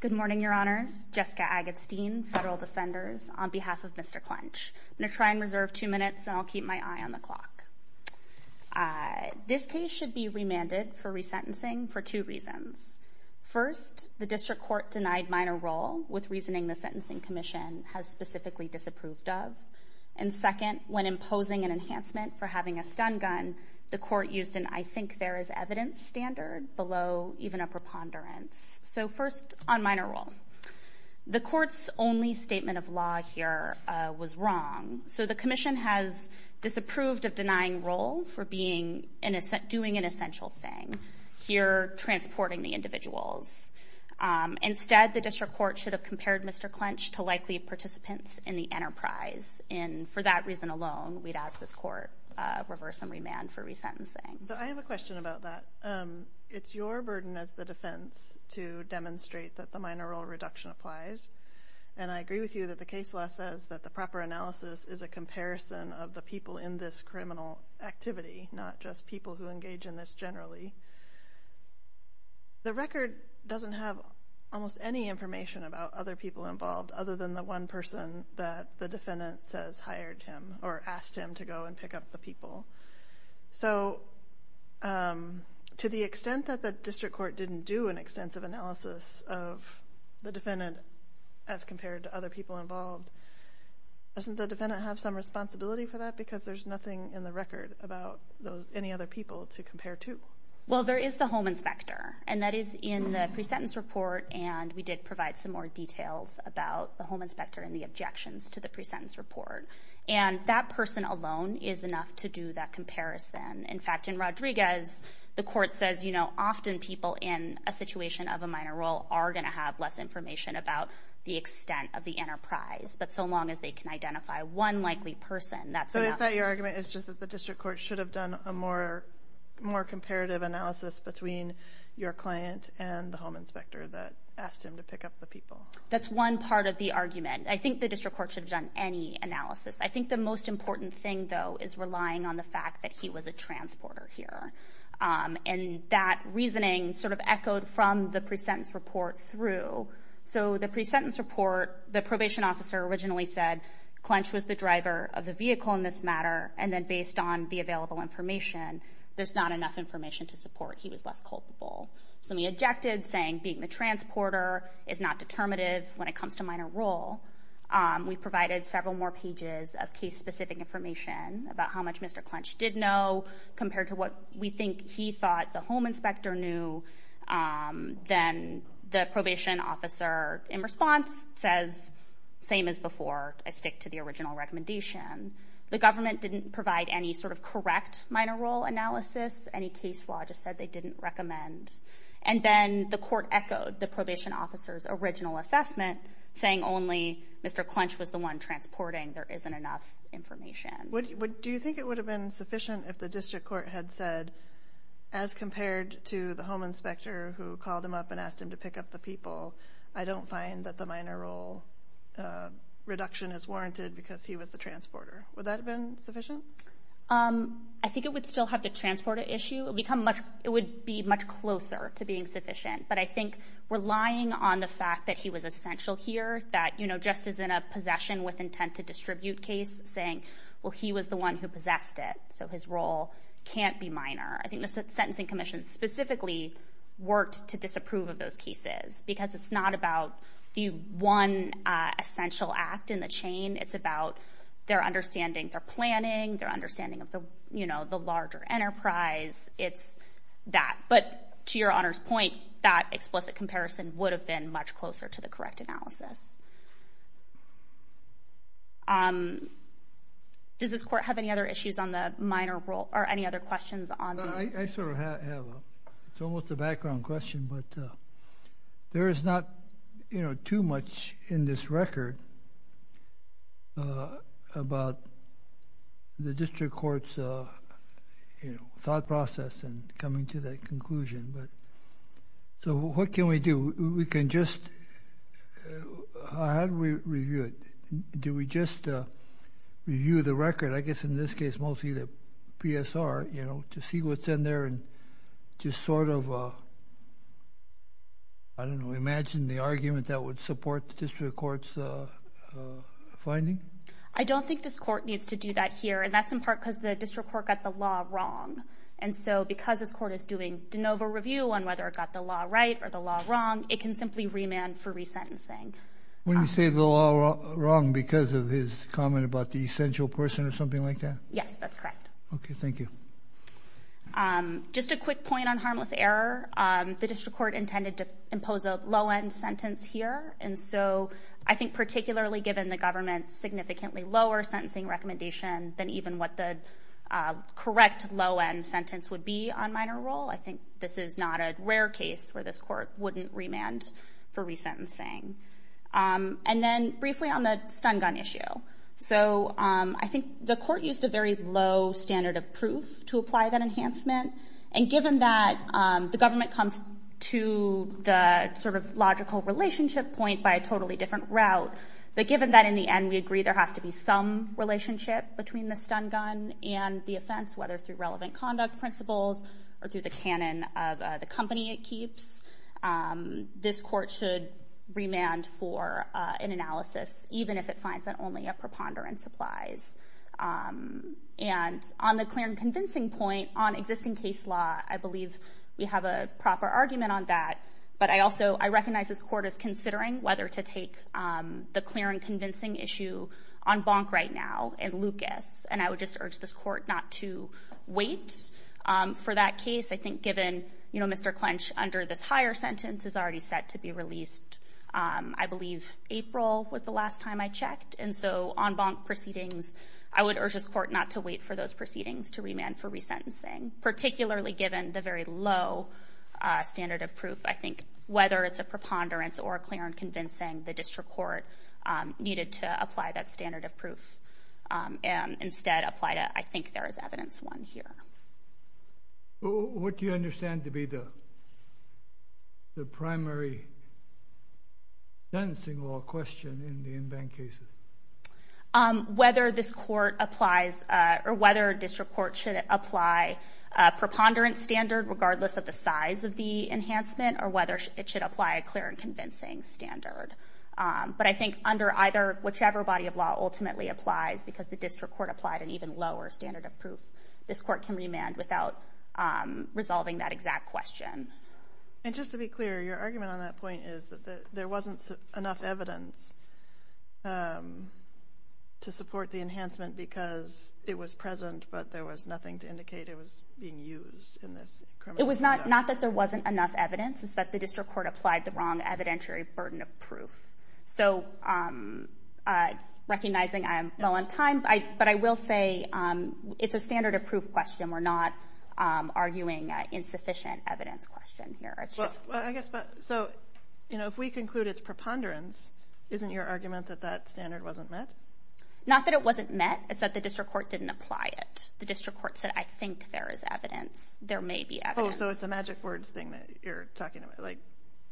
Good morning, Your Honors. Jessica Agatstein, Federal Defenders, on behalf of Mr. Klensch. I'm going to try and reserve two minutes and I'll keep my eye on the clock. This case should be remanded for resentencing for two reasons. First, the District Court denied minor role with reasoning the Sentencing Commission has specifically disapproved of. And second, when used in I think there is evidence standard below even a preponderance. So first, on minor role. The Court's only statement of law here was wrong. So the Commission has disapproved of denying role for doing an essential thing. Here, transporting the individuals. Instead, the District Court should have compared Mr. Klensch to likely participants in the enterprise. And for that reason alone, we'd ask this Court reverse and remand for resentencing. I have a question about that. It's your burden as the defense to demonstrate that the minor role reduction applies. And I agree with you that the case law says that the proper analysis is a comparison of the people in this criminal activity, not just people who engage in this generally. The record doesn't have almost any information about other people involved other than the one person that the defendant says hired him or asked him to go and pick up the people. So to the extent that the District Court didn't do an extensive analysis of the defendant as compared to other people involved, doesn't the defendant have some responsibility for that? Because there's nothing in the record about any other people to compare to. Well, there is the home inspector. And that is in the pre-sentence report. And we did provide some more details about the home inspector and the objections to the pre-sentence report. And that person alone is enough to do that comparison. In fact, in Rodriguez, the Court says, you know, often people in a situation of a minor role are going to have less information about the extent of the enterprise. But so long as they can identify one likely person, that's enough. So is that your argument is just that the District Court should have done a more comparative analysis between your client and the home inspector that asked him to pick up the people? That's one part of the argument. I think the District Court should have done any analysis. I think the most important thing, though, is relying on the fact that he was a transporter here. And that reasoning sort of echoed from the pre-sentence report through. So the pre-sentence report, the probation officer originally said Clench was the driver of the vehicle in this report. He was less culpable. So we objected, saying being the transporter is not determinative when it comes to minor role. We provided several more pages of case-specific information about how much Mr. Clench did know compared to what we think he thought the home inspector knew. Then the probation officer, in response, says, same as before, I stick to the original recommendation. The government didn't provide any sort of correct minor role analysis. Any case law just said they didn't recommend. And then the court echoed the probation officer's original assessment, saying only Mr. Clench was the one transporting. There isn't enough information. Do you think it would have been sufficient if the District Court had said, as compared to the home inspector who called him up and asked him to pick up the people, I don't find that the minor role reduction is warranted because he was the transporter. Would that have been sufficient? I think it would still have the transporter issue. It would be much closer to being sufficient. But I think relying on the fact that he was essential here, that just as in a possession with intent to distribute case, saying, well, he was the one who possessed it, so his role can't be minor. I think the Sentencing Commission specifically worked to disapprove of those essential act in the chain. It's about their understanding, their planning, their understanding of the larger enterprise. It's that. But to Your Honor's point, that explicit comparison would have been much closer to the correct analysis. Does this court have any other issues on the minor role or any other questions on the... I sort of have a... It's almost a background question, but there is not too much in this record about the district court's thought process and coming to that conclusion. So what can we do? We can just... How do we review it? Do we just review the record, I guess in this case mostly the PSR, to see what's in there and just sort of, I don't know, imagine the argument that would support the district court's finding? I don't think this court needs to do that here. And that's in part because the district court got the law wrong. And so because this court is doing de novo review on whether it got the law right or the law wrong, it can simply remand for resentencing. When you say the law wrong because of his comment about the essential person or something like that? Yes, that's correct. Okay, thank you. Just a quick point on harmless error. The district court intended to impose a low-end sentence here. And so I think particularly given the government's significantly lower sentencing recommendation than even what the correct low-end sentence would be on minor role, I think this is not a rare case where this court wouldn't remand for resentencing. And then briefly on the stun gun issue. So I think the court used a very low standard of proof to apply that enhancement. And given that the government comes to the sort of logical relationship point by a totally different route, but given that in the end we agree there has to be some relationship between the stun gun and the offense, whether through relevant conduct principles or through the canon of the company it keeps, this court should remand for an analysis, even if it finds that only a preponderance applies. And on the clear and convincing point on existing case law, I believe we have a proper argument on that. But I also recognize this court is considering whether to take the clear and convincing issue on Bonk right now and Lucas. And I would just urge this court not to wait for that case. I think given, you know, Mr. Clench under this higher sentence is already set to be released, I believe April was the last time I checked. And so on Bonk proceedings, I would urge this court not to wait for those proceedings to remand for resentencing, particularly given the very low standard of proof. I think whether it's a and instead apply to, I think there is evidence one here. What do you understand to be the primary sentencing law question in the in-bank cases? Whether this court applies or whether a district court should apply a preponderance standard regardless of the size of the enhancement or whether it should apply a clear and convincing standard. But I think under either, whichever body of law ultimately applies because the district court applied an even lower standard of proof, this court can remand without resolving that exact question. And just to be clear, your argument on that point is that there wasn't enough evidence to support the enhancement because it was present, but there was nothing to indicate it was being used in this. It was not that there wasn't enough evidence, it's that the district court applied the wrong evidentiary burden of proof. So recognizing I am low on time, but I will say it's a standard of proof question. We're not arguing an insufficient evidence question here. So, you know, if we conclude it's preponderance, isn't your argument that that standard wasn't met? Not that it wasn't met, it's that the district court didn't apply it. The district court said, I think there is evidence. There may be evidence. Oh, so it's a magic words thing that you're talking about, like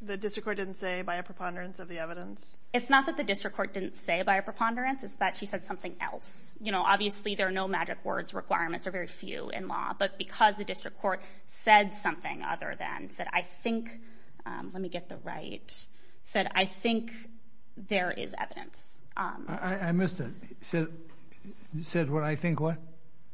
the district court didn't say by a preponderance of the evidence? It's not that the district court didn't say by a preponderance, it's that she said something else. You know, obviously there are no magic words requirements or very few in law, but because the district court said something other than, said I think, let me get the right, said I think there is evidence. I missed it. You said what I think what?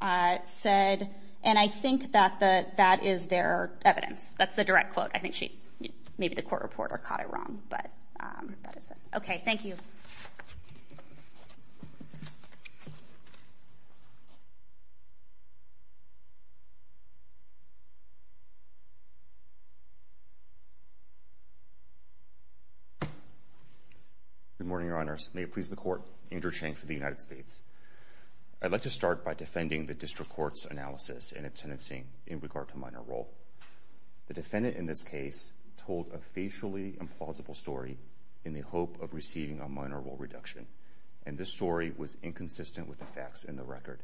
And I think that is there evidence. That's the direct quote. I think maybe the court reporter caught it wrong, but that is it. Okay, thank you. Good morning, Your Honors. May it please the court. Andrew Chang for the United States. I'd like to start by defending the district court's analysis in its sentencing in regard to minor role. The defendant in this case told a facially implausible story in the hope of receiving a minor role reduction, and this story was inconsistent with the facts in the record.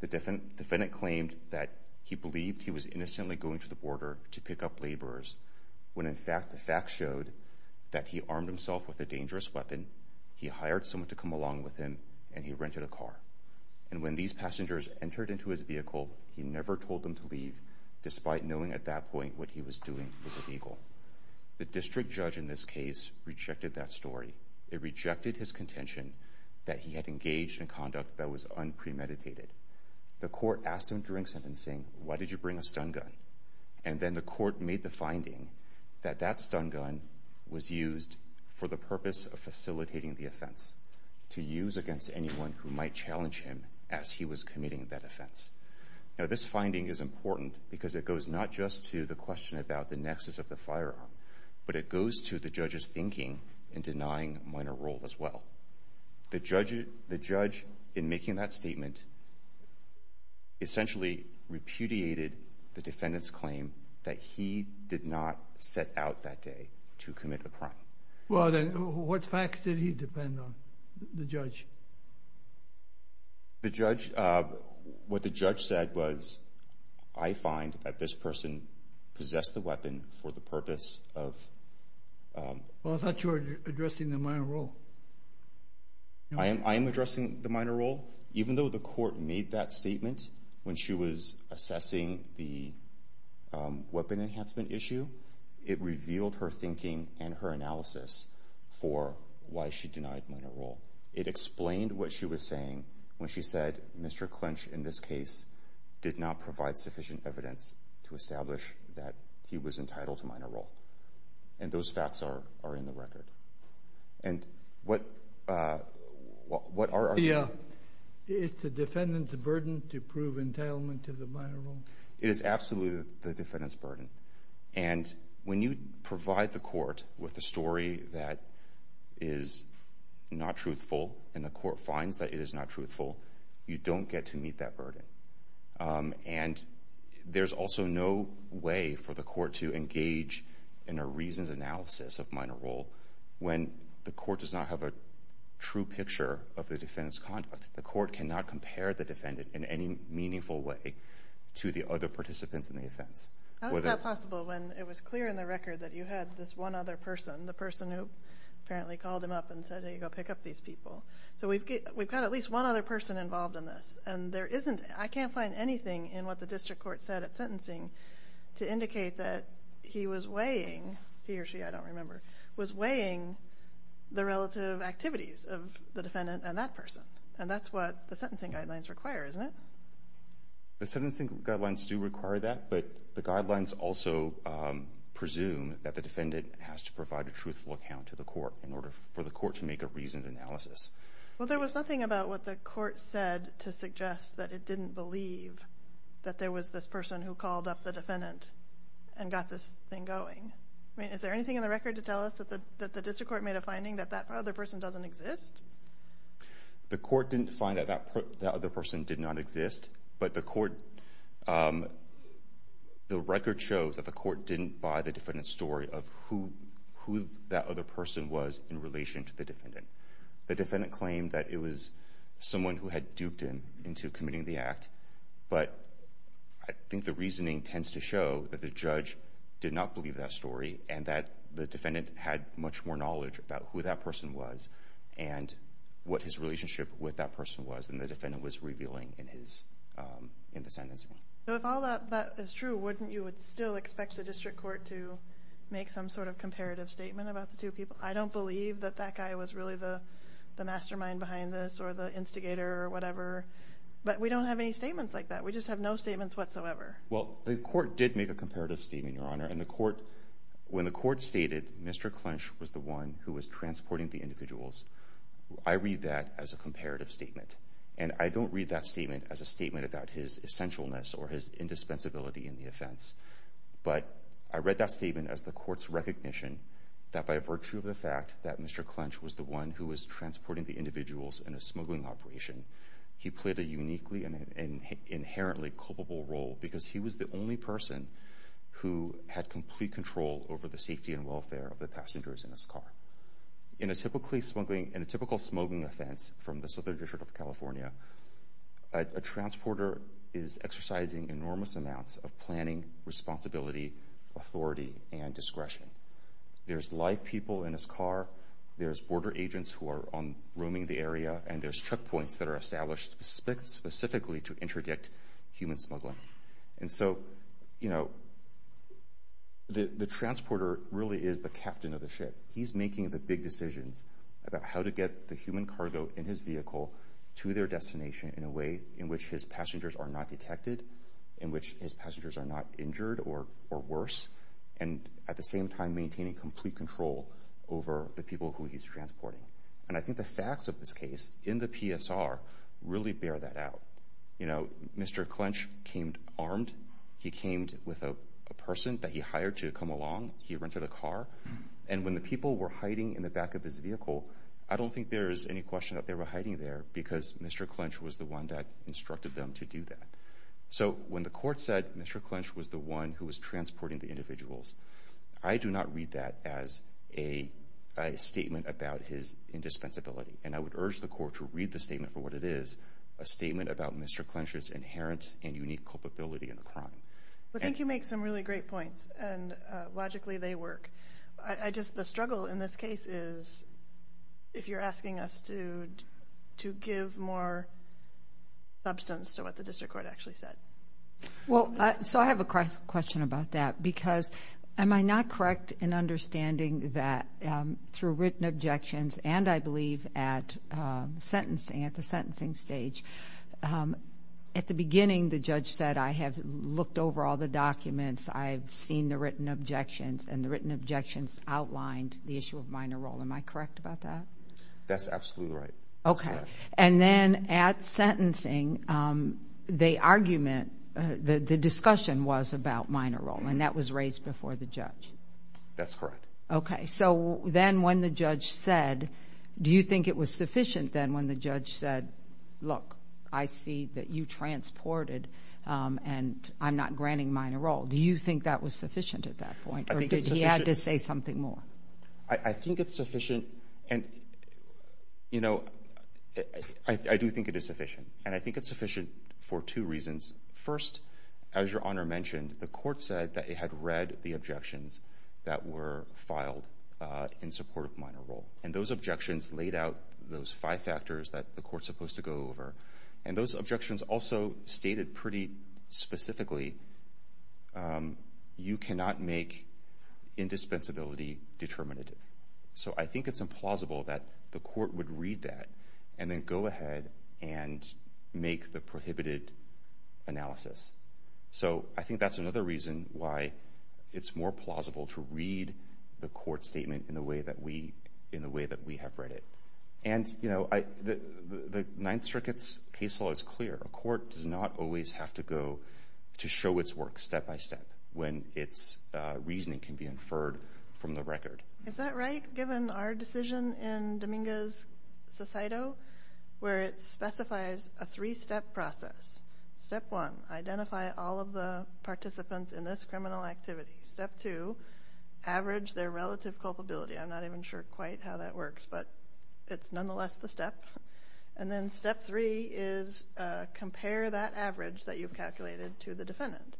The defendant claimed that he believed he was innocently going to the border to pick up laborers, when in fact the facts showed that he armed himself with a dangerous weapon, he hired someone to come along with him, and he rented a car. And when these passengers entered into his vehicle, he never told them to leave, despite knowing at that point what he was doing was illegal. The district judge in this case rejected that story. It rejected his contention that he had engaged in conduct that was unpremeditated. The court asked him during sentencing, why did you bring a stun gun? And then the court made the finding that that stun gun was used for the purpose of facilitating the offense, to use against anyone who might challenge him as he was committing that offense. Now this finding is important because it goes not just to the question about the nexus of the firearm, but it goes to the judge's thinking in denying minor role as well. The judge in making that statement essentially repudiated the defendant's claim that he did not set out that day to commit a crime. Well, then what facts did he depend on, the judge? What the judge said was, I find that this person possessed the weapon for the purpose of... Well, I thought you were addressing the minor role. I am addressing the minor role. Even though the court made that statement when she was assessing the weapon enhancement issue, it revealed her thinking and her analysis for why she denied minor role. It explained what she was saying when she said, Mr. Clinch, in this case, did not provide sufficient evidence to establish that he was entitled to minor role. And those facts are in the record. And what are... Yeah. It's the defendant's burden to prove entitlement to the minor role. It is absolutely the defendant's burden. And when you provide the court with a story that is not truthful and the court finds that it is not truthful, you don't get to meet that burden. And there's also no way for the court to engage in a reasoned analysis of minor role when the court does not have a true picture of the defendant's conduct. The court cannot compare the defendant in any meaningful way to the other participants in the offense. How is that possible when it was clear in the record that you had this one other person, the person who apparently called him up and said, hey, go pick up these people. So we've got at least one other person involved in this. And I can't find anything in what the district court said at sentencing to indicate that he was weighing he or she, I don't remember, was weighing the relative activities of the defendant and that person. And that's what the sentencing guidelines require, isn't it? The sentencing guidelines do require that, but the guidelines also presume that the defendant has to provide a truthful account to the court in order for the court to make a reasoned analysis. Well, there was nothing about what the court said to suggest that it didn't believe that there was this person who called up the defendant and got this thing going. I mean, is there anything in the record to tell us that the district court made a The court didn't find that that other person did not exist, but the court the record shows that the court didn't buy the defendant's story of who that other person was in relation to the defendant. The defendant claimed that it was someone who had duped him into committing the act. But I think the reasoning tends to show that the judge did not believe that story and that the defendant had much more knowledge about who that person was and what his relationship with that person was than the defendant was revealing in the sentencing. So if all of that is true, wouldn't you still expect the district court to make some sort of comparative statement about the two people? I don't believe that that guy was really the mastermind behind this or the instigator or whatever. But we don't have any statements like that. We just have no statements whatsoever. Well, the court did make a comparative statement, Your Honor, and the court when the court stated Mr. Clinch was the one who was transporting the individuals. I read that as a comparative statement, and I don't read that statement as a statement about his essentialness or his indispensability in the offense. But I read that statement as the court's recognition that by virtue of the fact that Mr. Clinch was the one who was transporting the individuals in a smuggling operation, he played a uniquely and inherently culpable role because he was the only person who had complete control over the safety and welfare of the passengers in his car. In a typical smuggling offense from the Southern District of California, a transporter is there's live people in his car, there's border agents who are roaming the area, and there's checkpoints that are established specifically to interdict human smuggling. And so, you know, the transporter really is the captain of the ship. He's making the big decisions about how to get the human cargo in his vehicle to their destination in a way in which his passengers are not detected, in which his passengers are not injured or worse, and at the same time maintaining complete control over the people who he's transporting. And I think the facts of this case in the PSR really bear that out. You know, Mr. Clinch came armed. He came with a person that he hired to come along. He rented a car. And when the people were hiding in the back of his vehicle, I don't think there's any question that they were hiding there because Mr. Clinch was the one that instructed them to do that. So when the court said Mr. Clinch was the one who was transporting the individuals, I do not read that as a statement about his indispensability. And I would urge the court to read the statement for what it is, a statement about Mr. Clinch's inherent and unique culpability in the crime. Well, I think you make some really great points, and logically they work. The struggle in this case is if you're asking us to give more substance to what the district court actually said. Well, so I have a question about that because am I not correct in understanding that through written objections and I believe at the sentencing stage, at the beginning the judge said I have looked over all the documents, I've seen the written objections, and the written objections outlined the issue of minor role. Am I correct about that? That's absolutely right. That's correct. Okay. And then at sentencing, the argument, the discussion was about minor role, and that was raised before the judge. That's correct. Okay. So then when the judge said, do you think it was sufficient then when the judge said, look, I see that you transported, and I'm not granting minor role. Do you think that was sufficient at that point, or did he have to say something more? I think it's sufficient, and you know, I do think it is sufficient. And I think it's sufficient for two reasons. First, as your Honor mentioned, the court said that it had read the objections that were filed in support of minor role. And those objections laid out those five factors that the court's supposed to go over. And those objections also stated pretty specifically you cannot make indispensability determinative. So I think it's implausible that the court would read that and then go ahead and make the prohibited analysis. So I think that's another reason why it's more plausible to read the court's statement in the way that we have read it. And you know, the Ninth Circuit's case law is clear. A court does not always have to go to show its work step-by-step when its reasoning can be inferred from the record. Is that right, given our decision in Dominguez-Sosaito, where it specifies a three-step process? Step one, identify all of the participants in this criminal activity. Step two, average their relative culpability. I'm not even sure quite how that works, but it's nonetheless the step. And then step three is compare that average that you've calculated to the defendant.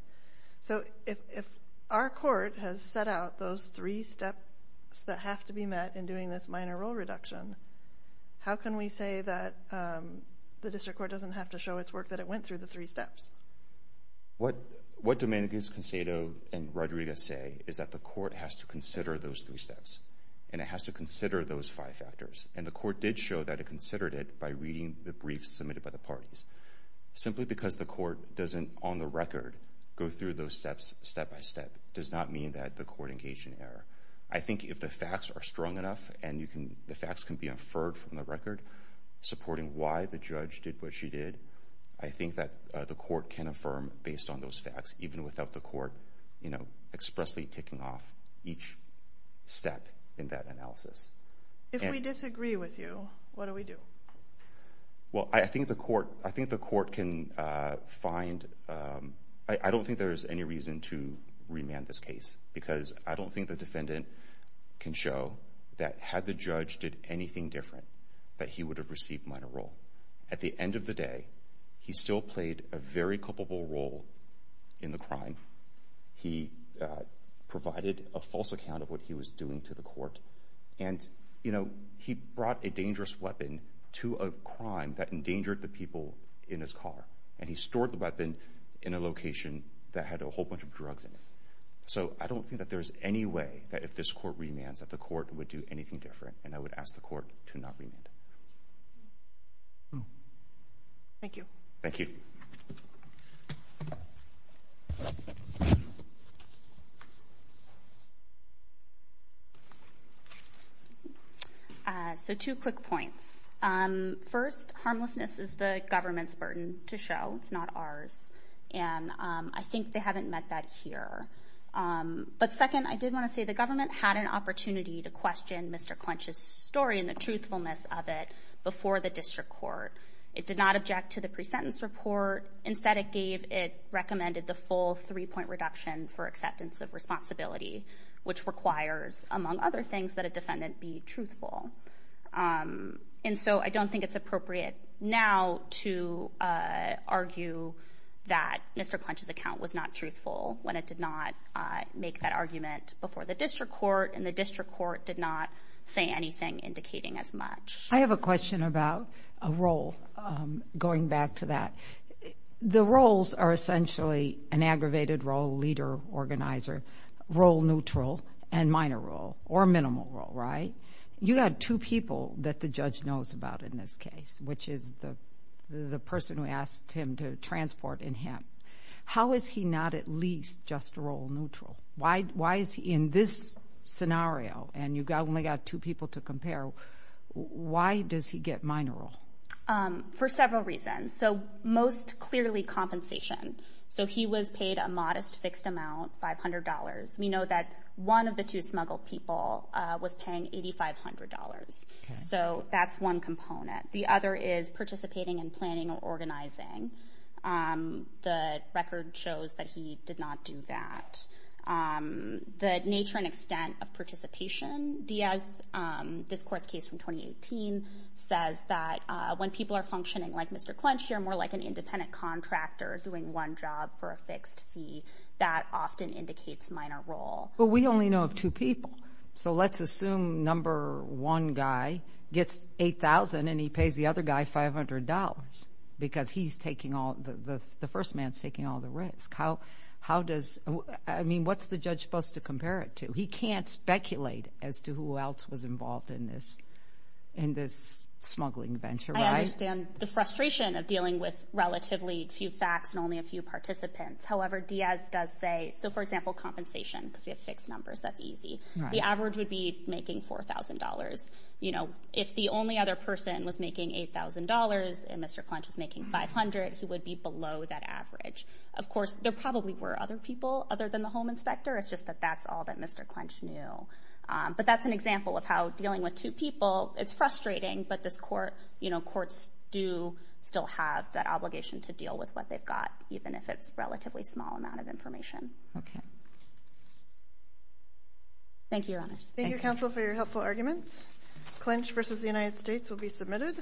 So if our court has set out those three steps that have to be met in doing this minor role reduction, how can we say that the district court doesn't have to show its work that it went through the three steps? What Dominguez-Sosaito and Rodriguez say is that the briefs submitted by the parties. Simply because the court doesn't, on the record, go through those steps step-by-step does not mean that the court engaged in error. I think if the facts are strong enough and the facts can be inferred from the record, supporting why the judge did what she did, I think that the court can affirm based on those facts, even without the court expressly ticking off each step in that analysis. If we disagree with you, what do we do? Well, I think the court can find, I don't think there's any reason to remand this case because I don't think the defendant can show that had the judge did anything different that he would have received minor role. At the end of the day, he still played a very close account of what he was doing to the court. And he brought a dangerous weapon to a crime that endangered the people in his car. And he stored the weapon in a location that had a whole bunch of drugs in it. So I don't think that there's any way that if this court remands that the court would do anything different. And I would ask the court to not remand. Thank you. So two quick points. First, harmlessness is the government's burden to show. It's not ours. And I think they haven't met that here. But second, I did want to say the government had an opportunity to question Mr. Clunch's story and the truthfulness of it before the district court. It did not object to the pre-sentence report. Instead, it gave it recommended the full three-point reduction for acceptance of responsibility, which requires among other things that a defendant be truthful. And so I don't think it's appropriate now to argue that Mr. Clunch's account was not truthful when it did not make that argument before the district court. And the district court did not say anything indicating as much. I have a question about a role, going back to that. The roles are essentially an aggravated role, leader, organizer, role neutral and minor role the person who asked him to transport in him. How is he not at least just role neutral? Why is he, in this scenario, and you've only got two people to compare, why does he get minor role? For several reasons. So most clearly compensation. So he was paid a modest fixed amount, $500. We know that one of the two smuggled people was paying $8,500. So that's one component. The other is participating in planning or organizing. The record shows that he did not do that. The nature and extent of participation, Diaz, this court's case from 2018, says that when people are functioning like Mr. Clunch, you're more like an independent contractor doing one job for a fixed fee. That often indicates minor role. But we only know of two people. So let's assume number one guy gets $8,000 and he pays the other guy $500. Because he's taking all, the first man's taking all the risk. What's the judge supposed to compare it to? He can't speculate as to who else was involved in this smuggling venture, right? I understand the frustration of dealing with relatively few facts and only a few participants. However, Diaz does say, so for example, compensation, because we have fixed numbers. That's easy. The average would be making $4,000. If the only other person was making $8,000 and Mr. Clunch was making $500, he would be below that average. Of course, there probably were other people other than the home inspector. It's just that that's all that Mr. Clunch knew. But that's an example of how dealing with two people, it's frustrating, but courts do still have that obligation to deal with what they've got, even if it's a relatively small amount of information. Thank you, Your Honors. Thank you, counsel, for your helpful arguments. Clinch v. The United States will be submitted.